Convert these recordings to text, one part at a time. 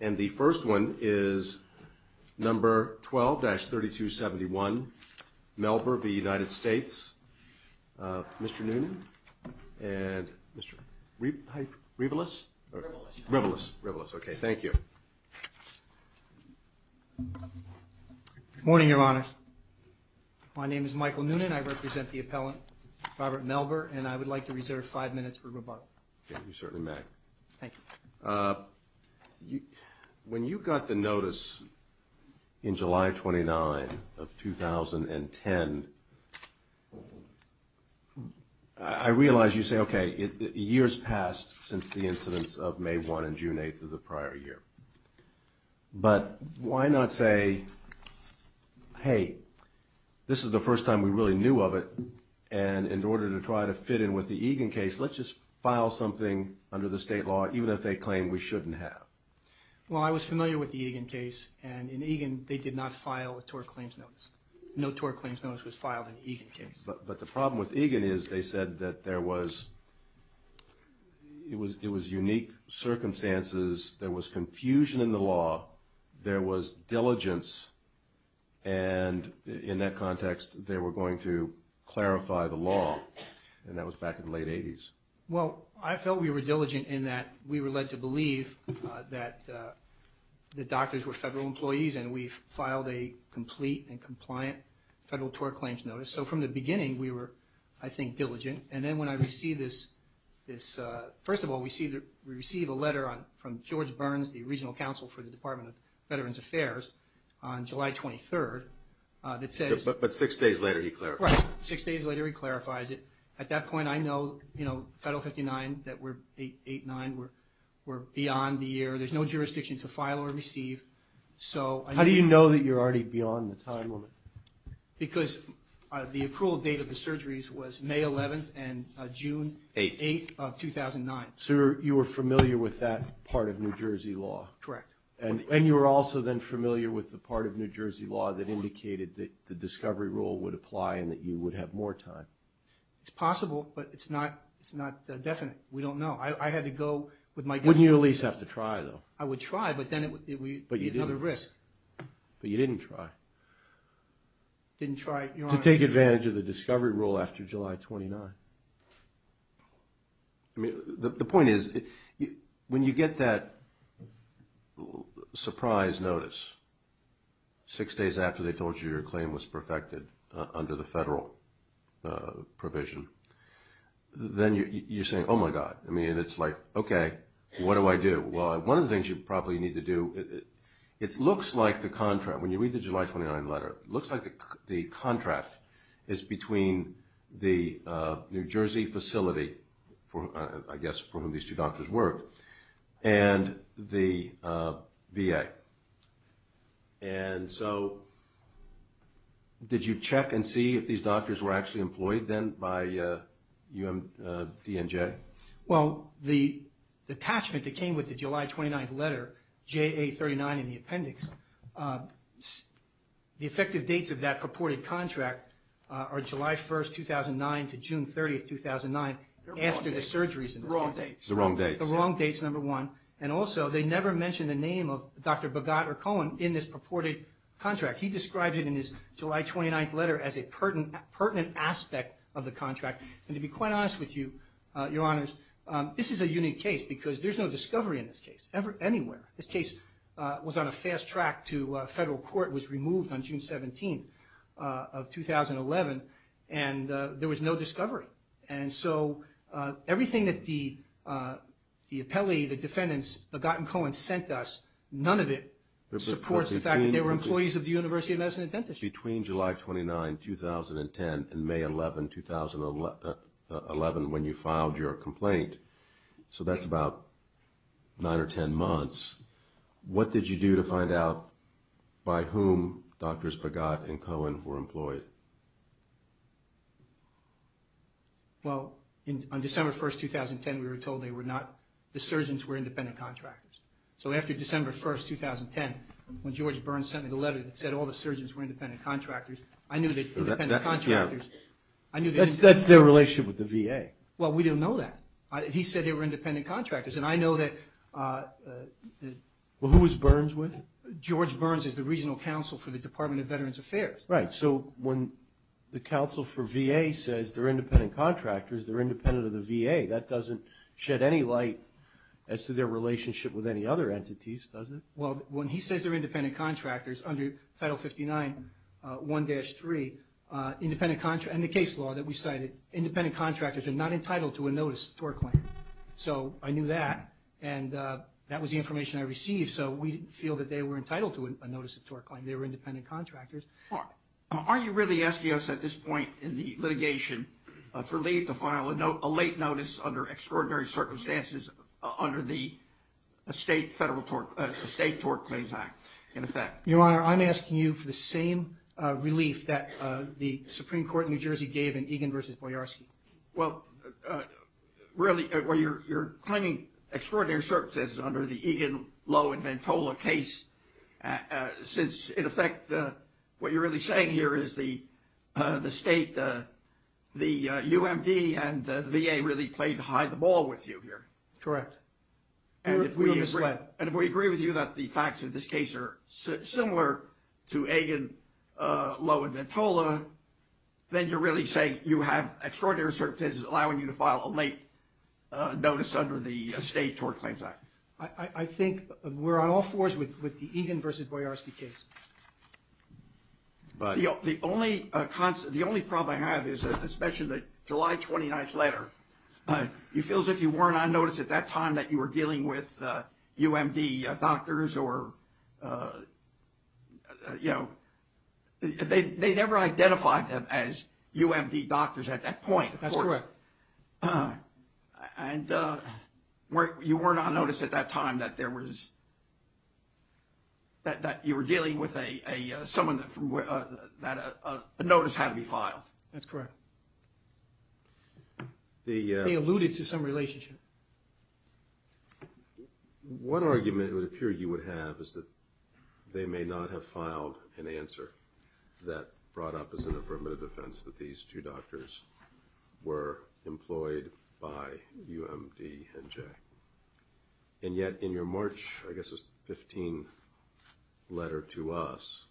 And the first one is number 12-3271, Melber of the United States, Mr. Noonan, and Mr. Rivelas? Rivelas, okay, thank you. Good morning, Your Honors. My name is Michael Noonan. I represent the appellant, Robert Melber, and I would like to reserve five minutes for rebuttal. Okay, you certainly may. Thank you. When you got the notice in July 29 of 2010, I realize you say, okay, years passed since the incidents of May 1 and June 8 of the prior year. But why not say, hey, this is the first time we really knew of it, and in order to try to fit in with the Egan case, let's just file something under the state law, even if they claim we shouldn't have? Well, I was familiar with the Egan case, and in Egan, they did not file a tort claims notice. No tort claims notice was filed in the Egan case. But the problem with Egan is they said that there was unique circumstances, there was confusion in the law, there was diligence, and in that context, they were going to clarify the law, and that was back in the late 80s. Well, I felt we were diligent in that we were led to believe that the doctors were federal employees and we filed a complete and compliant federal tort claims notice. So from the beginning, we were, I think, diligent. And then when I received this – first of all, we received a letter from George Burns, the regional counsel for the Department of Veterans Affairs, on July 23rd that says – But six days later, he clarified it. Right. Six days later, he clarifies it. At that point, I know, you know, Title 59, that we're 8-9, we're beyond the year. There's no jurisdiction to file or receive. How do you know that you're already beyond the time limit? Because the approval date of the surgeries was May 11th and June 8th of 2009. So you were familiar with that part of New Jersey law. Correct. And you were also then familiar with the part of New Jersey law that indicated that the discovery rule would apply and that you would have more time. It's possible, but it's not definite. We don't know. I had to go with my guess. Wouldn't you at least have to try, though? I would try, but then it would be another risk. But you didn't try. Didn't try. To take advantage of the discovery rule after July 29th. The point is, when you get that surprise notice six days after they told you your claim was perfected under the federal provision, then you're saying, oh, my God. I mean, it's like, okay, what do I do? Well, one of the things you probably need to do – it looks like the contract. When you read the July 29th letter, it looks like the contract is between the New Jersey facility, I guess, for whom these two doctors worked, and the VA. And so did you check and see if these doctors were actually employed then by UMDNJ? Well, the attachment that came with the July 29th letter, JA39 in the appendix, the effective dates of that purported contract are July 1st, 2009 to June 30th, 2009, after the surgeries. The wrong dates. The wrong dates. The wrong dates, number one. And also, they never mention the name of Dr. Bogart or Cohen in this purported contract. He describes it in his July 29th letter as a pertinent aspect of the contract. And to be quite honest with you, Your Honors, this is a unique case because there's no discovery in this case anywhere. This case was on a fast track to federal court, was removed on June 17th of 2011, and there was no discovery. And so everything that the appellee, the defendants, Bogart and Cohen sent us, none of it supports the fact that they were employees of the University of Medicine and Dentistry. It's between July 29th, 2010 and May 11th, 2011 when you filed your complaint. So that's about nine or ten months. What did you do to find out by whom Drs. Bogart and Cohen were employed? Well, on December 1st, 2010, we were told they were not. The surgeons were independent contractors. So after December 1st, 2010, when George Burns sent me the letter that said all the surgeons were independent contractors, I knew that independent contractors... That's their relationship with the VA. Well, we didn't know that. He said they were independent contractors, and I know that... Well, who was Burns with? George Burns is the regional counsel for the Department of Veterans Affairs. Right. So when the counsel for VA says they're independent contractors, they're independent of the VA. That doesn't shed any light as to their relationship with any other entities, does it? Well, when he says they're independent contractors, under Title 59, 1-3, independent... And the case law that we cited, independent contractors are not entitled to a notice of tort claim. So I knew that, and that was the information I received, so we didn't feel that they were entitled to a notice of tort claim. They were independent contractors. Aren't you really asking us at this point in the litigation for Lee to file a late notice under extraordinary circumstances under the State Tort Claims Act, in effect? Your Honor, I'm asking you for the same relief that the Supreme Court in New Jersey gave in Egan v. Boyarsky. Well, really, you're claiming extraordinary circumstances under the Egan, Lowe, and Ventola case, since, in effect, what you're really saying here is the State, the UMD, and the VA really played hide-the-ball with you here. Correct. And if we agree with you that the facts of this case are similar to Egan, Lowe, and Ventola, then you're really saying you have extraordinary circumstances allowing you to file a late notice under the State Tort Claims Act. I think we're on all fours with the Egan v. Boyarsky case. The only problem I have is, as mentioned, the July 29th letter. It feels like you weren't on notice at that time that you were dealing with UMD doctors or, you know, they never identified them as UMD doctors at that point. That's correct. And you weren't on notice at that time that you were dealing with someone that a notice had to be filed. That's correct. They alluded to some relationship. One argument it would appear you would have is that they may not have filed an answer that brought up as an affirmative defense that these two doctors were employed by UMD and Jay. And yet in your March, I guess, 15 letter to us,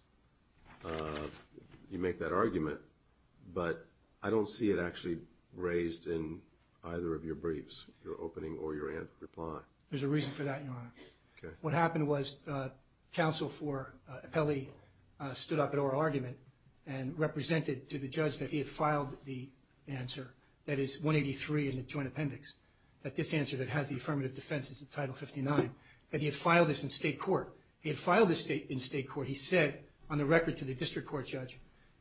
you make that argument. But I don't see it actually raised in either of your briefs, your opening or your reply. There's a reason for that, Your Honor. Okay. What happened was counsel for Appelli stood up at our argument and represented to the judge that he had filed the answer, that is 183 in the joint appendix, that this answer that has the affirmative defense is in Title 59, that he had filed this in state court. He had filed this in state court. He said on the record to the district court judge,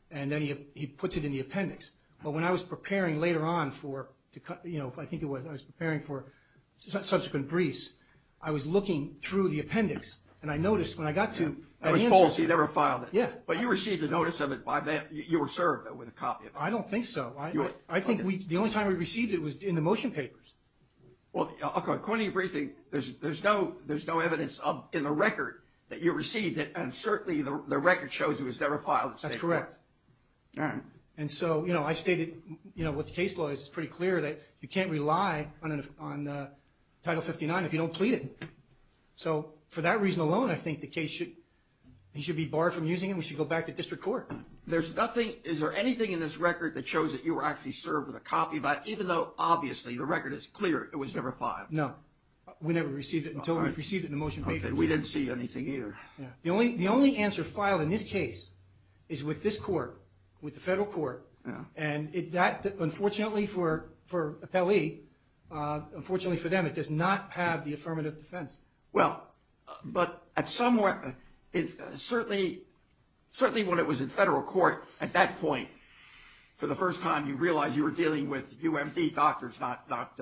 and then he puts it in the appendix. But when I was preparing later on for, you know, I think it was I was preparing for subsequent briefs, I was looking through the appendix, and I noticed when I got to that answer. I was told he'd never filed it. Yeah. But you received a notice of it by mail. You were served with a copy of it. I don't think so. I think the only time we received it was in the motion papers. Well, according to your briefing, there's no evidence in the record that you received it, and certainly the record shows it was never filed in state court. That's correct. All right. And so, you know, I stated, you know, with the case law, it's pretty clear that you can't rely on Title 59 if you don't plead it. So for that reason alone, I think the case should be barred from using it and we should go back to district court. There's nothing, is there anything in this record that shows that you were actually served with a copy of that, even though obviously the record is clear it was never filed? No. We never received it until we received it in the motion papers. Okay. We didn't see anything either. Yeah. The only answer filed in this case is with this court, with the federal court. Yeah. And that, unfortunately for appellee, unfortunately for them, it does not have the affirmative defense. Well, but at some point, certainly when it was in federal court at that point, for the first time you realized you were dealing with UMD doctors, not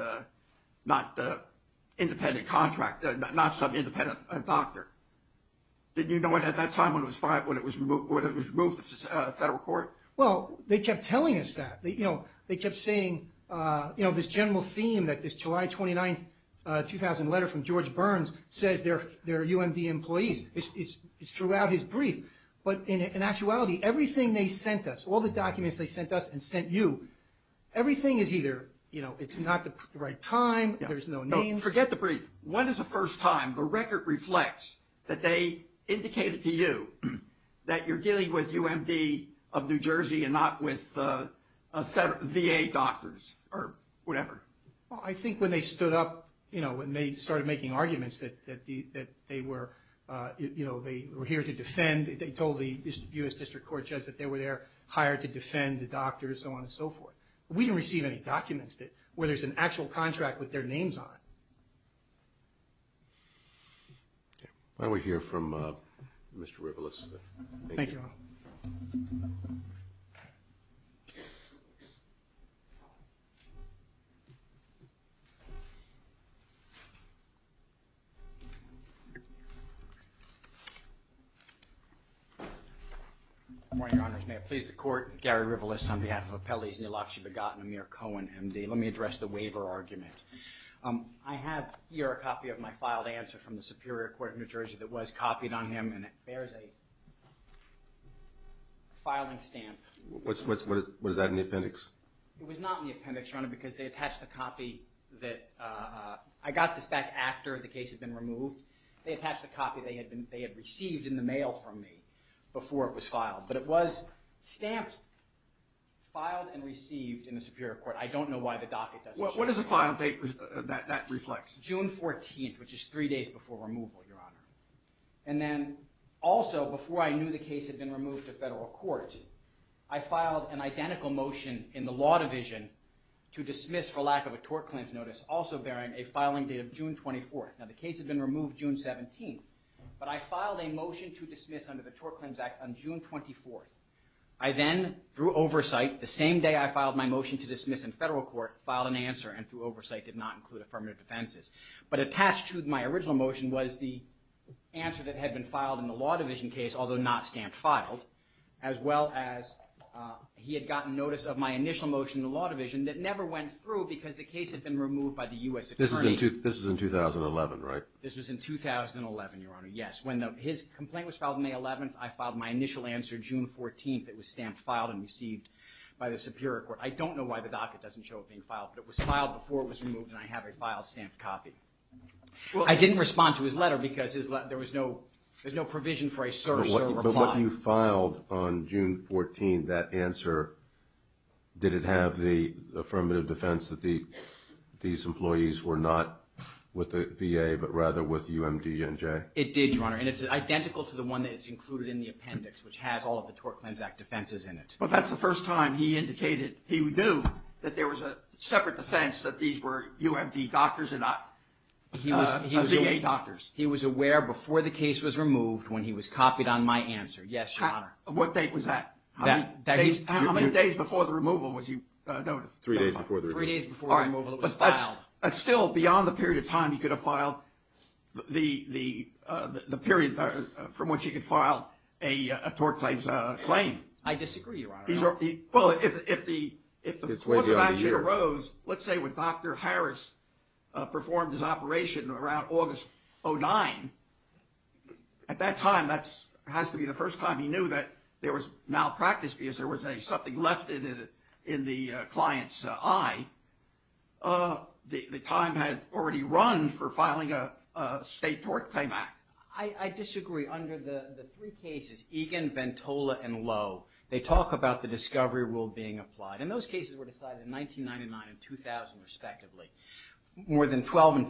independent contract, not some independent doctor. Did you know it at that time when it was removed from federal court? Well, they kept telling us that. They kept saying, you know, this general theme that this July 29, 2000 letter from George Burns says they're UMD employees. It's throughout his brief. But in actuality, everything they sent us, all the documents they sent us and sent you, everything is either, you know, it's not the right time, there's no name. Forget the brief. When is the first time the record reflects that they indicated to you that you're dealing with UMD of New Jersey and not with VA doctors or whatever? Well, I think when they stood up, you know, when they started making arguments that they were, you know, they were here to defend. They told the U.S. District Court Judge that they were there hired to defend the doctors, so on and so forth. We didn't receive any documents where there's an actual contract with their names on it. Why don't we hear from Mr. Rivelas? Thank you. Good morning, Your Honors. May it please the Court. Gary Rivelas on behalf of Appellees Neelof, Shibagat, and Amir Cohen, MD. Let me address the waiver argument. I have here a copy of my filed answer from the Superior Court of New Jersey that was copied on him, and it bears a filing stamp. What is that, in the appendix? It was not in the appendix, Your Honor, because they attached the copy that I got this back after the case had been removed. They attached the copy they had received in the mail from me before it was filed, but it was stamped, filed and received in the Superior Court. I don't know why the docket doesn't show that. What is the file date that reflects? June 14th, which is three days before removal, Your Honor. And then also, before I knew the case had been removed to federal court, I filed an identical motion in the Law Division to dismiss, for lack of a tort claims notice, also bearing a filing date of June 24th. Now, the case had been removed June 17th, but I filed a motion to dismiss under the Tort Claims Act on June 24th. I then, through oversight, the same day I filed my motion to dismiss in federal court, filed an answer, and through oversight did not include affirmative defenses. But attached to my original motion was the answer that had been filed in the Law Division case, although not stamped, filed, as well as he had gotten notice of my initial motion in the Law Division that never went through because the case had been removed by the U.S. Attorney. This was in 2011, right? This was in 2011, Your Honor, yes. When his complaint was filed on May 11th, I filed my initial answer June 14th. It was stamped, filed, and received by the Superior Court. I don't know why the docket doesn't show it being filed, but it was filed before it was removed, and I have a file-stamped copy. I didn't respond to his letter because there was no provision for a Sir, Sir reply. But what you filed on June 14th, that answer, did it have the affirmative defense that these employees were not with the VA, but rather with UMDNJ? It did, Your Honor, and it's identical to the one that's included in the appendix, which has all of the Tort Cleanse Act defenses in it. But that's the first time he indicated he knew that there was a separate defense that these were UMD doctors and not VA doctors. He was aware before the case was removed when he was copied on my answer. Yes, Your Honor. What date was that? How many days before the removal was he notified? Three days before the removal. Three days before the removal it was filed. That's still beyond the period of time he could have filed the period from which he could file a tort claims claim. I disagree, Your Honor. Well, if it wasn't actually arose, let's say when Dr. Harris performed his operation around August 09, at that time, that has to be the first time he knew that there was malpractice because there was something left in the client's eye. The time had already run for filing a State Tort Claim Act. I disagree. Under the three cases, Egan, Ventola, and Lowe, they talk about the discovery rule being applied. And those cases were decided in 1999 and 2000, respectively, more than 12 and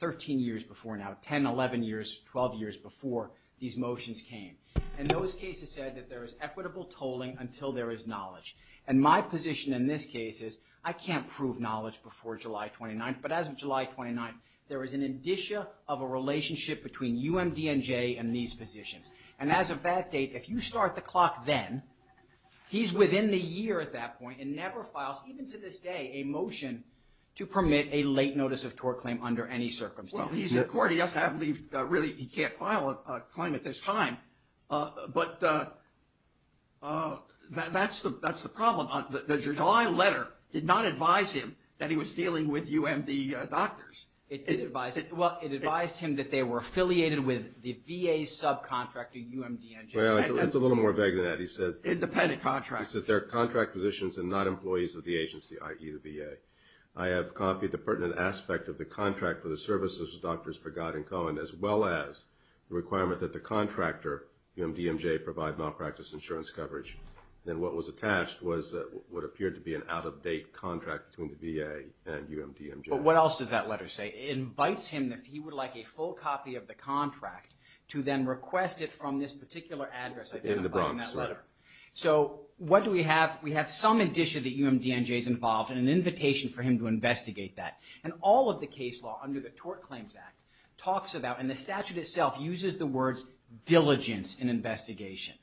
13 years before now, 10, 11 years, 12 years before these motions came. And those cases said that there is equitable tolling until there is knowledge. And my position in this case is I can't prove knowledge before July 29th. But as of July 29th, there is an indicia of a relationship between UMDNJ and these positions. And as of that date, if you start the clock then, he's within the year at that point and never files, even to this day, a motion to permit a late notice of tort claim under any circumstance. Well, he's in court. I believe, really, he can't file a claim at this time. But that's the problem. The July letter did not advise him that he was dealing with UMD doctors. It did advise him. Well, it advised him that they were affiliated with the VA subcontractor, UMDNJ. Well, that's a little more vague than that. He says... Independent contractors. I have copied the pertinent aspect of the contract for the services of Drs. Pagod and Cohen, as well as the requirement that the contractor, UMDNJ, provide malpractice insurance coverage. And what was attached was what appeared to be an out-of-date contract between the VA and UMDNJ. But what else does that letter say? It invites him, if he would like a full copy of the contract, to then request it from this particular address. In the Bronx, right. So, what do we have? We have some indicia that UMDNJ is involved and an invitation for him to investigate that. And all of the case law under the Tort Claims Act talks about, and the statute itself uses the words, diligence in investigation.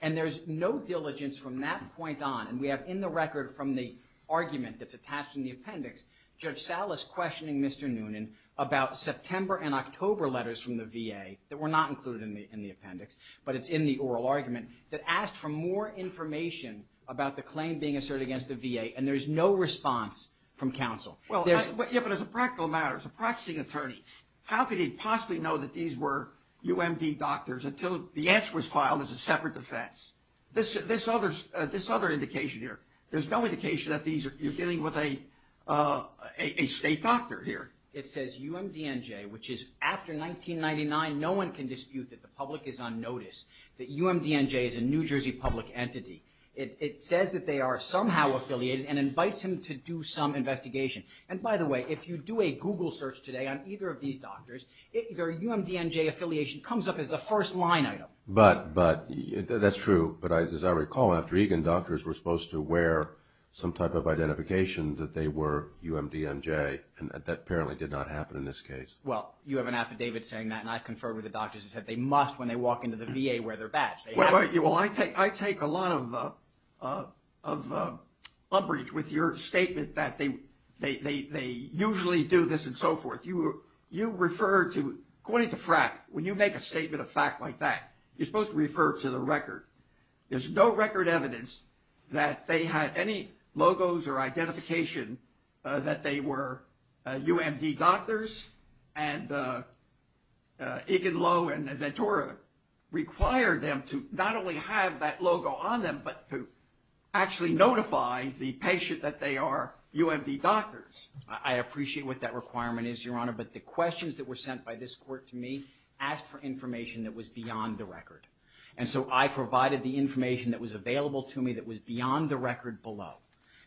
And there's no diligence from that point on. And we have in the record from the argument that's attached in the appendix, Judge Salas questioning Mr. Noonan about September and October letters from the VA that were not included in the appendix. But it's in the oral argument that asked for more information about the claim being asserted against the VA. And there's no response from counsel. Yeah, but as a practical matter, as a practicing attorney, how could he possibly know that these were UMD doctors until the answer was filed as a separate defense? This other indication here, there's no indication that you're dealing with a state doctor here. It says UMDNJ, which is after 1999, no one can dispute that the public is on notice, that UMDNJ is a New Jersey public entity. It says that they are somehow affiliated and invites him to do some investigation. And by the way, if you do a Google search today on either of these doctors, their UMDNJ affiliation comes up as the first line item. But that's true. But as I recall, after Egan, doctors were supposed to wear some type of identification that they were UMDNJ. And that apparently did not happen in this case. Well, you have an affidavit saying that. And I've conferred with the doctors and said they must when they walk into the VA wear their badge. Well, I take a lot of umbrage with your statement that they usually do this and so forth. You refer to, according to FRAC, when you make a statement of fact like that, you're supposed to refer to the record. There's no record evidence that they had any logos or identification that they were UMD doctors. And Egan Lowe and Ventura required them to not only have that logo on them, but to actually notify the patient that they are UMD doctors. I appreciate what that requirement is, Your Honor. But the questions that were sent by this court to me asked for information that was beyond the record. And so I provided the information that was available to me that was beyond the record below.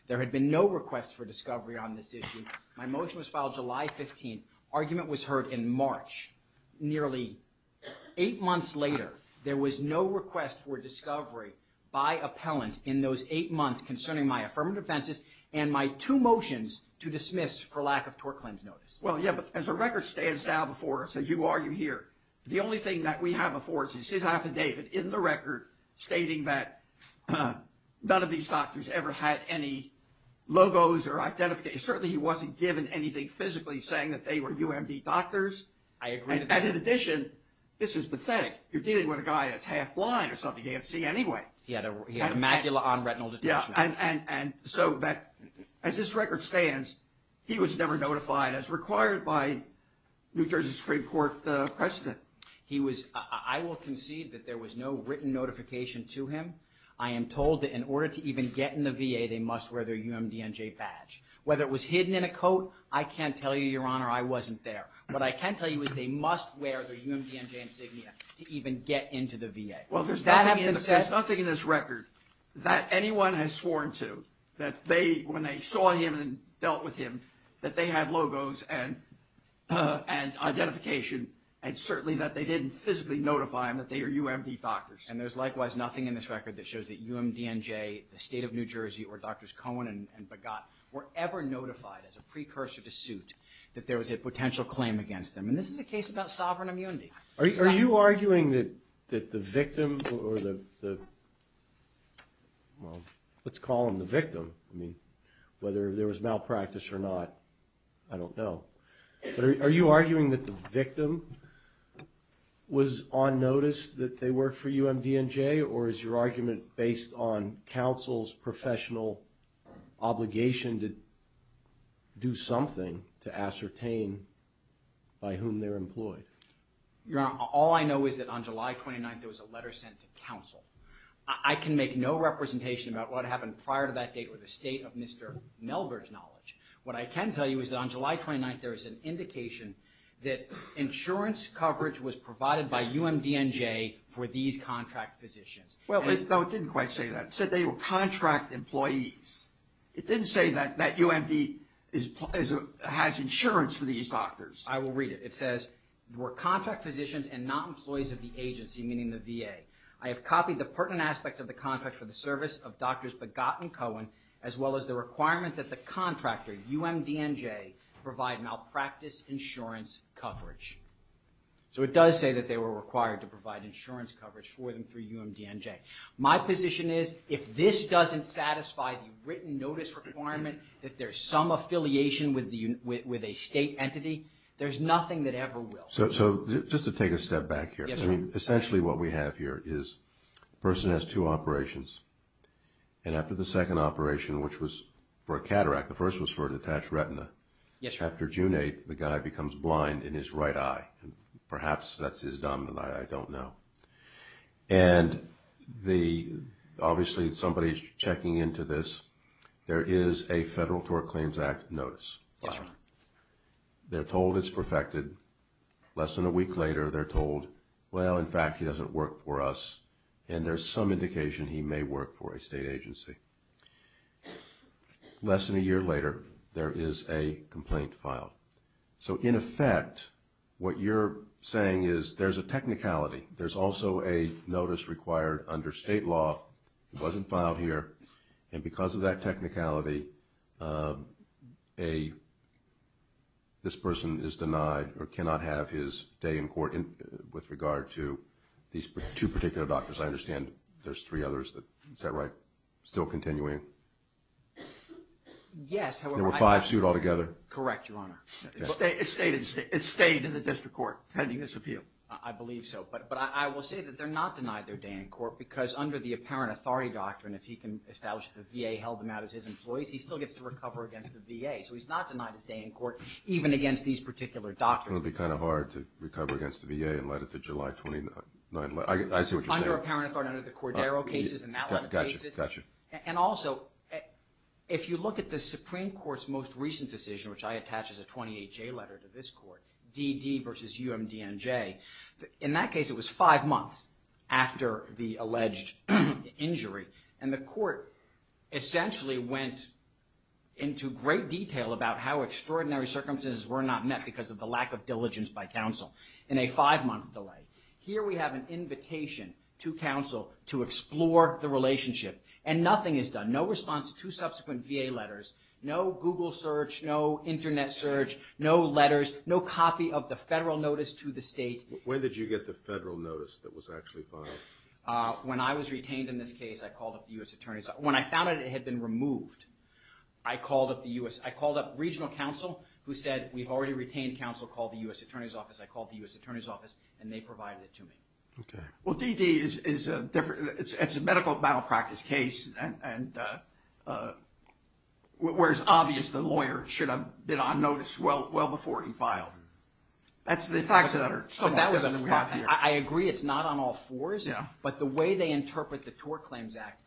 There had been no requests for discovery on this issue. My motion was filed July 15th. Argument was heard in March. Nearly eight months later, there was no request for discovery by appellant in those eight months concerning my affirmative offenses and my two motions to dismiss for lack of tort claims notice. Well, yeah, but as the record stands now before us, as you argue here, the only thing that we have before us is his affidavit in the record stating that none of these doctors ever had any logos or identification. Certainly he wasn't given anything physically saying that they were UMD doctors. I agree with that. And in addition, this is pathetic. You're dealing with a guy that's half blind or something. He can't see anyway. He had a macula on retinal detachment. Yeah, and so as this record stands, he was never notified as required by New Jersey Supreme Court precedent. I will concede that there was no written notification to him. I am told that in order to even get in the VA, they must wear their UMDNJ badge. Whether it was hidden in a coat, I can't tell you, Your Honor, I wasn't there. What I can tell you is they must wear their UMDNJ insignia to even get into the VA. Well, there's nothing in this record that anyone has sworn to that they, when they saw him and dealt with him, that they had logos and identification and certainly that they didn't physically notify him that they are UMD doctors. And there's likewise nothing in this record that shows that UMDNJ, the state of New Jersey, or Drs. Cohen and Begat were ever notified as a precursor to suit that there was a potential claim against them. And this is a case about sovereign immunity. Are you arguing that the victim or the, well, let's call him the victim. I mean, whether there was malpractice or not, I don't know. But are you arguing that the victim was on notice that they worked for UMDNJ, or is your argument based on counsel's professional obligation to do something to ascertain by whom they're employed? Your Honor, all I know is that on July 29th, there was a letter sent to counsel. I can make no representation about what happened prior to that date or the state of Mr. Melberg's knowledge. What I can tell you is that on July 29th, there was an indication that insurance coverage was provided by UMDNJ for these contract physicians. Well, no, it didn't quite say that. It said they were contract employees. It didn't say that UMD has insurance for these doctors. I will read it. It says, were contract physicians and not employees of the agency, meaning the VA. I have copied the pertinent aspect of the contract for the service of Drs. Begat and Cohen, as well as the requirement that the contractor, UMDNJ, provide malpractice insurance coverage. So it does say that they were required to provide insurance coverage for them through UMDNJ. My position is if this doesn't satisfy the written notice requirement that there's some affiliation with a state entity, there's nothing that ever will. So just to take a step back here. Yes, sir. I mean, essentially what we have here is a person has two operations. And after the second operation, which was for a cataract, the first was for a detached retina. Yes, sir. After June 8th, the guy becomes blind in his right eye. Perhaps that's his dominant eye. I don't know. And obviously somebody's checking into this. There is a Federal Tort Claims Act notice. Yes, sir. They're told it's perfected. Less than a week later, they're told, well, in fact, he doesn't work for us. And there's some indication he may work for a state agency. Less than a year later, there is a complaint filed. So in effect, what you're saying is there's a technicality. There's also a notice required under state law. It wasn't filed here. And because of that technicality, this person is denied or cannot have his day in court with regard to these two particular doctors. I understand there's three others. Is that right? Still continuing? Yes. There were five sued altogether? Correct, Your Honor. It stayed in the district court pending this appeal. I believe so. But I will say that they're not denied their day in court because under the apparent authority doctrine, if he can establish that the VA held them out as his employees, he still gets to recover against the VA. So he's not denied his day in court even against these particular doctors. It would be kind of hard to recover against the VA and let it to July 29th. I see what you're saying. Under apparent authority, under the Cordero cases and that line of cases. Got you. And also, if you look at the Supreme Court's most recent decision, which I attach as a 28-J letter to this court, DD versus UMDNJ, in that case it was five months after the alleged injury and the court essentially went into great detail about how extraordinary circumstances were not met because of the lack of diligence by counsel in a five-month delay. Here we have an invitation to counsel to explore the relationship and nothing is done, no response to subsequent VA letters, no Google search, no Internet search, no letters, no copy of the federal notice to the state. When did you get the federal notice that was actually filed? When I was retained in this case, I called up the U.S. Attorney's Office. When I found out it had been removed, I called up the U.S. I called up regional counsel who said, we've already retained counsel called the U.S. Attorney's Office. I called the U.S. Attorney's Office and they provided it to me. Okay. Well, DD is a different, it's a medical malpractice case and where it's obvious the lawyer should have been on notice well before he filed. That's the facts that are somewhat different from what we have here. I agree it's not on all fours, but the way they interpret the Tort Claims Act,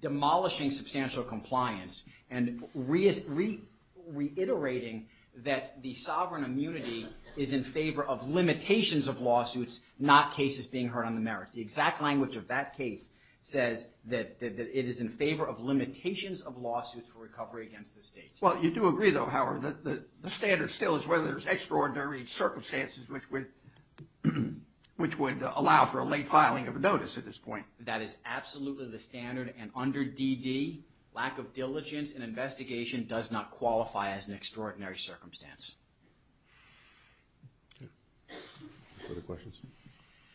demolishing substantial compliance and reiterating that the sovereign immunity is in favor of limitations of lawsuits, not cases being heard on the merits. The exact language of that case says that it is in favor of limitations of lawsuits for recovery against the state. Well, you do agree though, Howard, that the standard still is whether there's extraordinary circumstances which would allow for a late filing of a notice at this point. That is absolutely the standard, and under DD, lack of diligence and investigation does not qualify as an extraordinary circumstance. No further questions?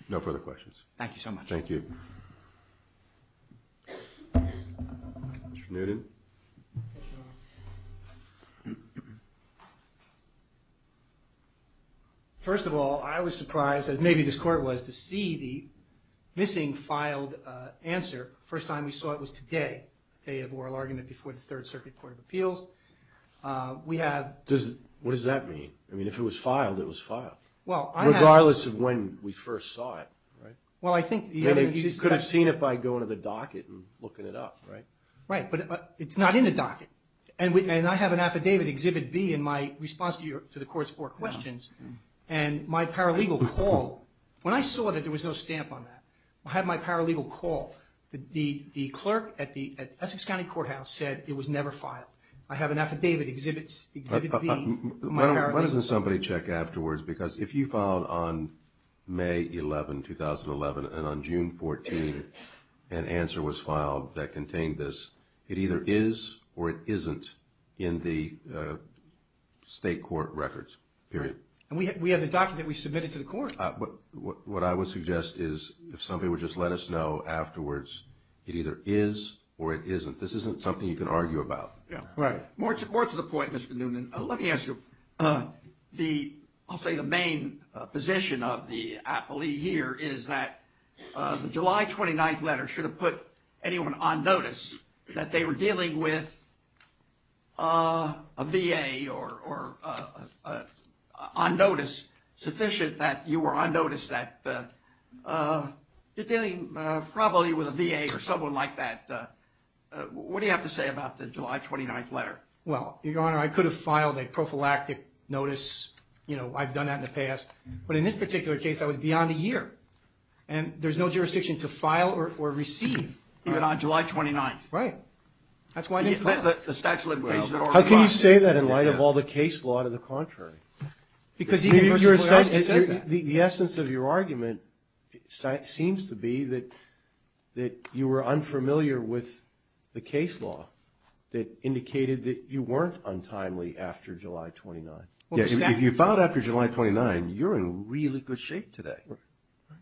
No further questions. Thank you so much. Thank you. Mr. Newton. First of all, I was surprised, as maybe this Court was, to see the missing filed answer the first time we saw it was today, the day of oral argument before the Third Circuit Court of Appeals. What does that mean? I mean, if it was filed, it was filed. Regardless of when we first saw it, right? You could have seen it by going to the docket and looking it up, right? Right, but it's not in the docket, and I have an affidavit, Exhibit B, in my response to the Court's four questions, and my paralegal called. When I saw that there was no stamp on that, I had my paralegal call. The clerk at the Essex County Courthouse said it was never filed. I have an affidavit, Exhibit B. Why doesn't somebody check afterwards? Because if you filed on May 11, 2011, and on June 14, an answer was filed that contained this, it either is or it isn't in the state court records, period. And we have the docket that we submitted to the Court. What I would suggest is if somebody would just let us know afterwards, it either is or it isn't. This isn't something you can argue about. More to the point, Mr. Noonan, let me ask you. I'll say the main position of the appellee here is that the July 29th letter should have put anyone on notice that they were dealing with a VA or on notice sufficient that you were on notice that you're dealing probably with a VA or someone like that. What do you have to say about the July 29th letter? Well, Your Honor, I could have filed a prophylactic notice. You know, I've done that in the past. But in this particular case, I was beyond a year. And there's no jurisdiction to file or receive. Even on July 29th? Right. That's why it's the statute of limitations. How can you say that in light of all the case law to the contrary? Because the essence of your argument seems to be that you were unfamiliar with the case law that indicated that you weren't untimely after July 29th. If you filed after July 29th, you're in really good shape today.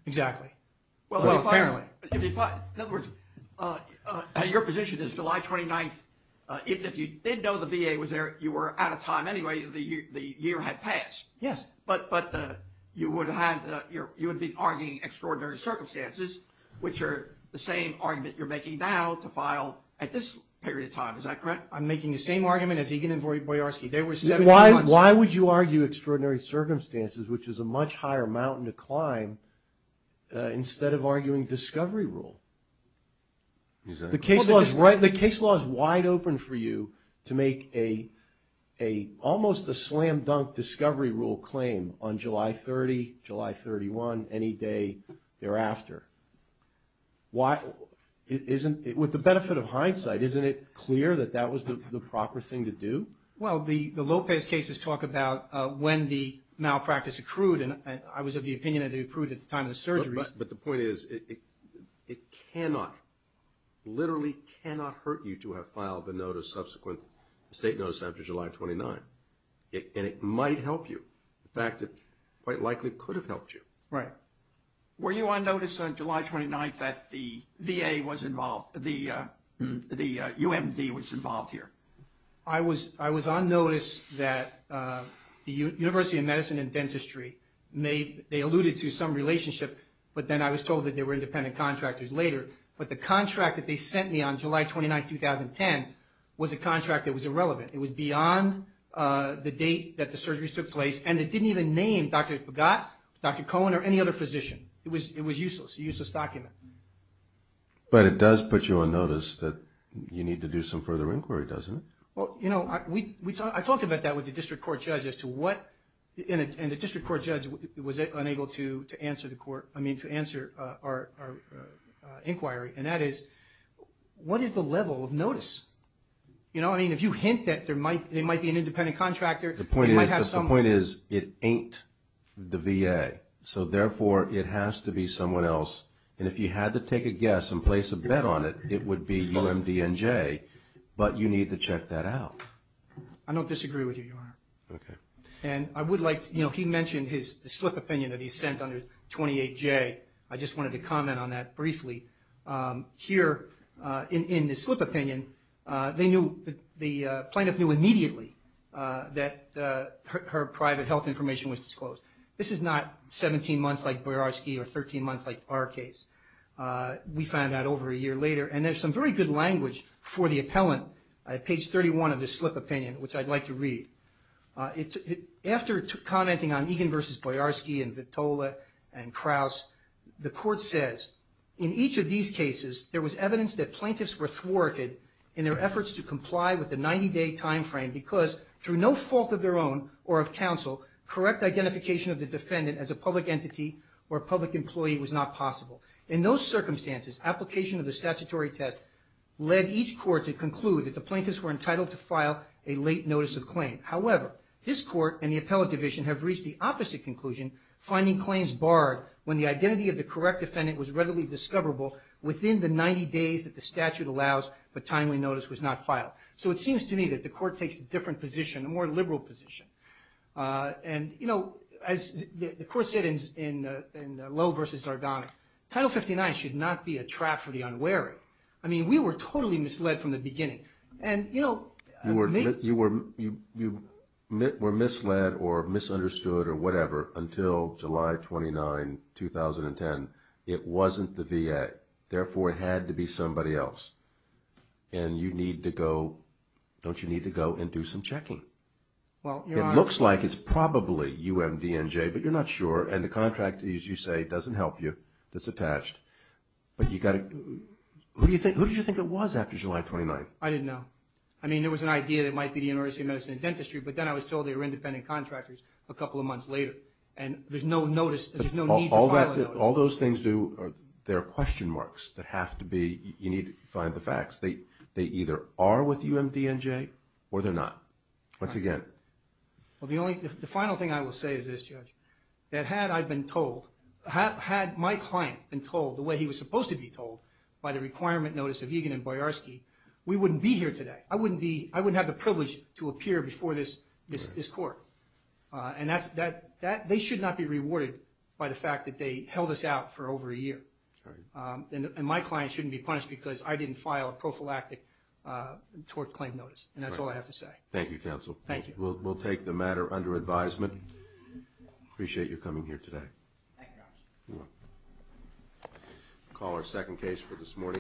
Exactly. Well, apparently. In other words, your position is July 29th, even if you did know the VA was there, you were out of time anyway. The year had passed. Yes. But you would have been arguing extraordinary circumstances, which are the same argument you're making now to file at this period of time. Is that correct? I'm making the same argument as Egan and Boyarsky. Why would you argue extraordinary circumstances, which is a much higher mountain to climb, instead of arguing discovery rule? The case law is wide open for you to make almost a slam-dunk discovery rule claim on July 30th, July 31st, any day thereafter. With the benefit of hindsight, isn't it clear that that was the proper thing to do? Well, the Lopez cases talk about when the malpractice accrued, and I was of the opinion that it accrued at the time of the surgery. But the point is, it cannot, literally cannot hurt you to have filed the notice, subsequent state notice after July 29th, and it might help you. In fact, it quite likely could have helped you. Right. Were you on notice on July 29th that the VA was involved, the UMD was involved here? I was on notice that the University of Medicine and Dentistry made, they alluded to some relationship, but then I was told that there were independent contractors later. But the contract that they sent me on July 29th, 2010, was a contract that was irrelevant. It was beyond the date that the surgeries took place, and it didn't even name Dr. Pagott, Dr. Cohen, or any other physician. It was useless, a useless document. But it does put you on notice that you need to do some further inquiry, doesn't it? Well, you know, I talked about that with the district court judge as to what, and the district court judge was unable to answer our inquiry, and that is, what is the level of notice? You know, I mean, if you hint that there might be an independent contractor. The point is it ain't the VA, so therefore it has to be someone else. And if you had to take a guess and place a bet on it, it would be UMD and Jay, but you need to check that out. I don't disagree with you, Your Honor. Okay. And I would like, you know, he mentioned his slip opinion that he sent under 28J. I just wanted to comment on that briefly. Here in the slip opinion, they knew, the plaintiff knew immediately that her private health information was disclosed. This is not 17 months like Boyarsky or 13 months like our case. We found out over a year later, and there's some very good language for the appellant at page 31 of the slip opinion, which I'd like to read. After commenting on Egan v. Boyarsky and Vitola and Kraus, the court says, in each of these cases, there was evidence that plaintiffs were thwarted in their efforts to comply with the 90-day timeframe because, through no fault of their own or of counsel, correct identification of the defendant as a public entity or a public employee was not possible. In those circumstances, application of the statutory test led each court to conclude that the plaintiffs were entitled to file a late notice of claim. However, this court and the appellate division have reached the opposite conclusion, finding claims barred when the identity of the correct defendant was readily discoverable within the 90 days that the statute allows but timely notice was not filed. So it seems to me that the court takes a different position, a more liberal position. And, you know, as the court said in Lowe v. Zardana, Title 59 should not be a trap for the unwary. I mean, we were totally misled from the beginning. You were misled or misunderstood or whatever until July 29, 2010. It wasn't the VA. Therefore, it had to be somebody else. And you need to go and do some checking. It looks like it's probably UMDNJ, but you're not sure. And the contract, as you say, doesn't help you. It's attached. But who did you think it was after July 29? I didn't know. I mean, there was an idea that it might be the University of Medicine and Dentistry, but then I was told they were independent contractors a couple of months later. And there's no need to file a notice. All those things do, there are question marks that have to be, you need to find the facts. They either are with UMDNJ or they're not, once again. Well, the final thing I will say is this, Judge, that had I been told, had my client been told the way he was supposed to be told by the requirement notice of Egan and Boyarsky, we wouldn't be here today. I wouldn't have the privilege to appear before this court. And they should not be rewarded by the fact that they held us out for over a year. And my client shouldn't be punished because I didn't file a prophylactic tort claim notice. And that's all I have to say. Thank you, Counsel. Thank you. We'll take the matter under advisement. Appreciate you coming here today. Thank you, Officer. You're welcome.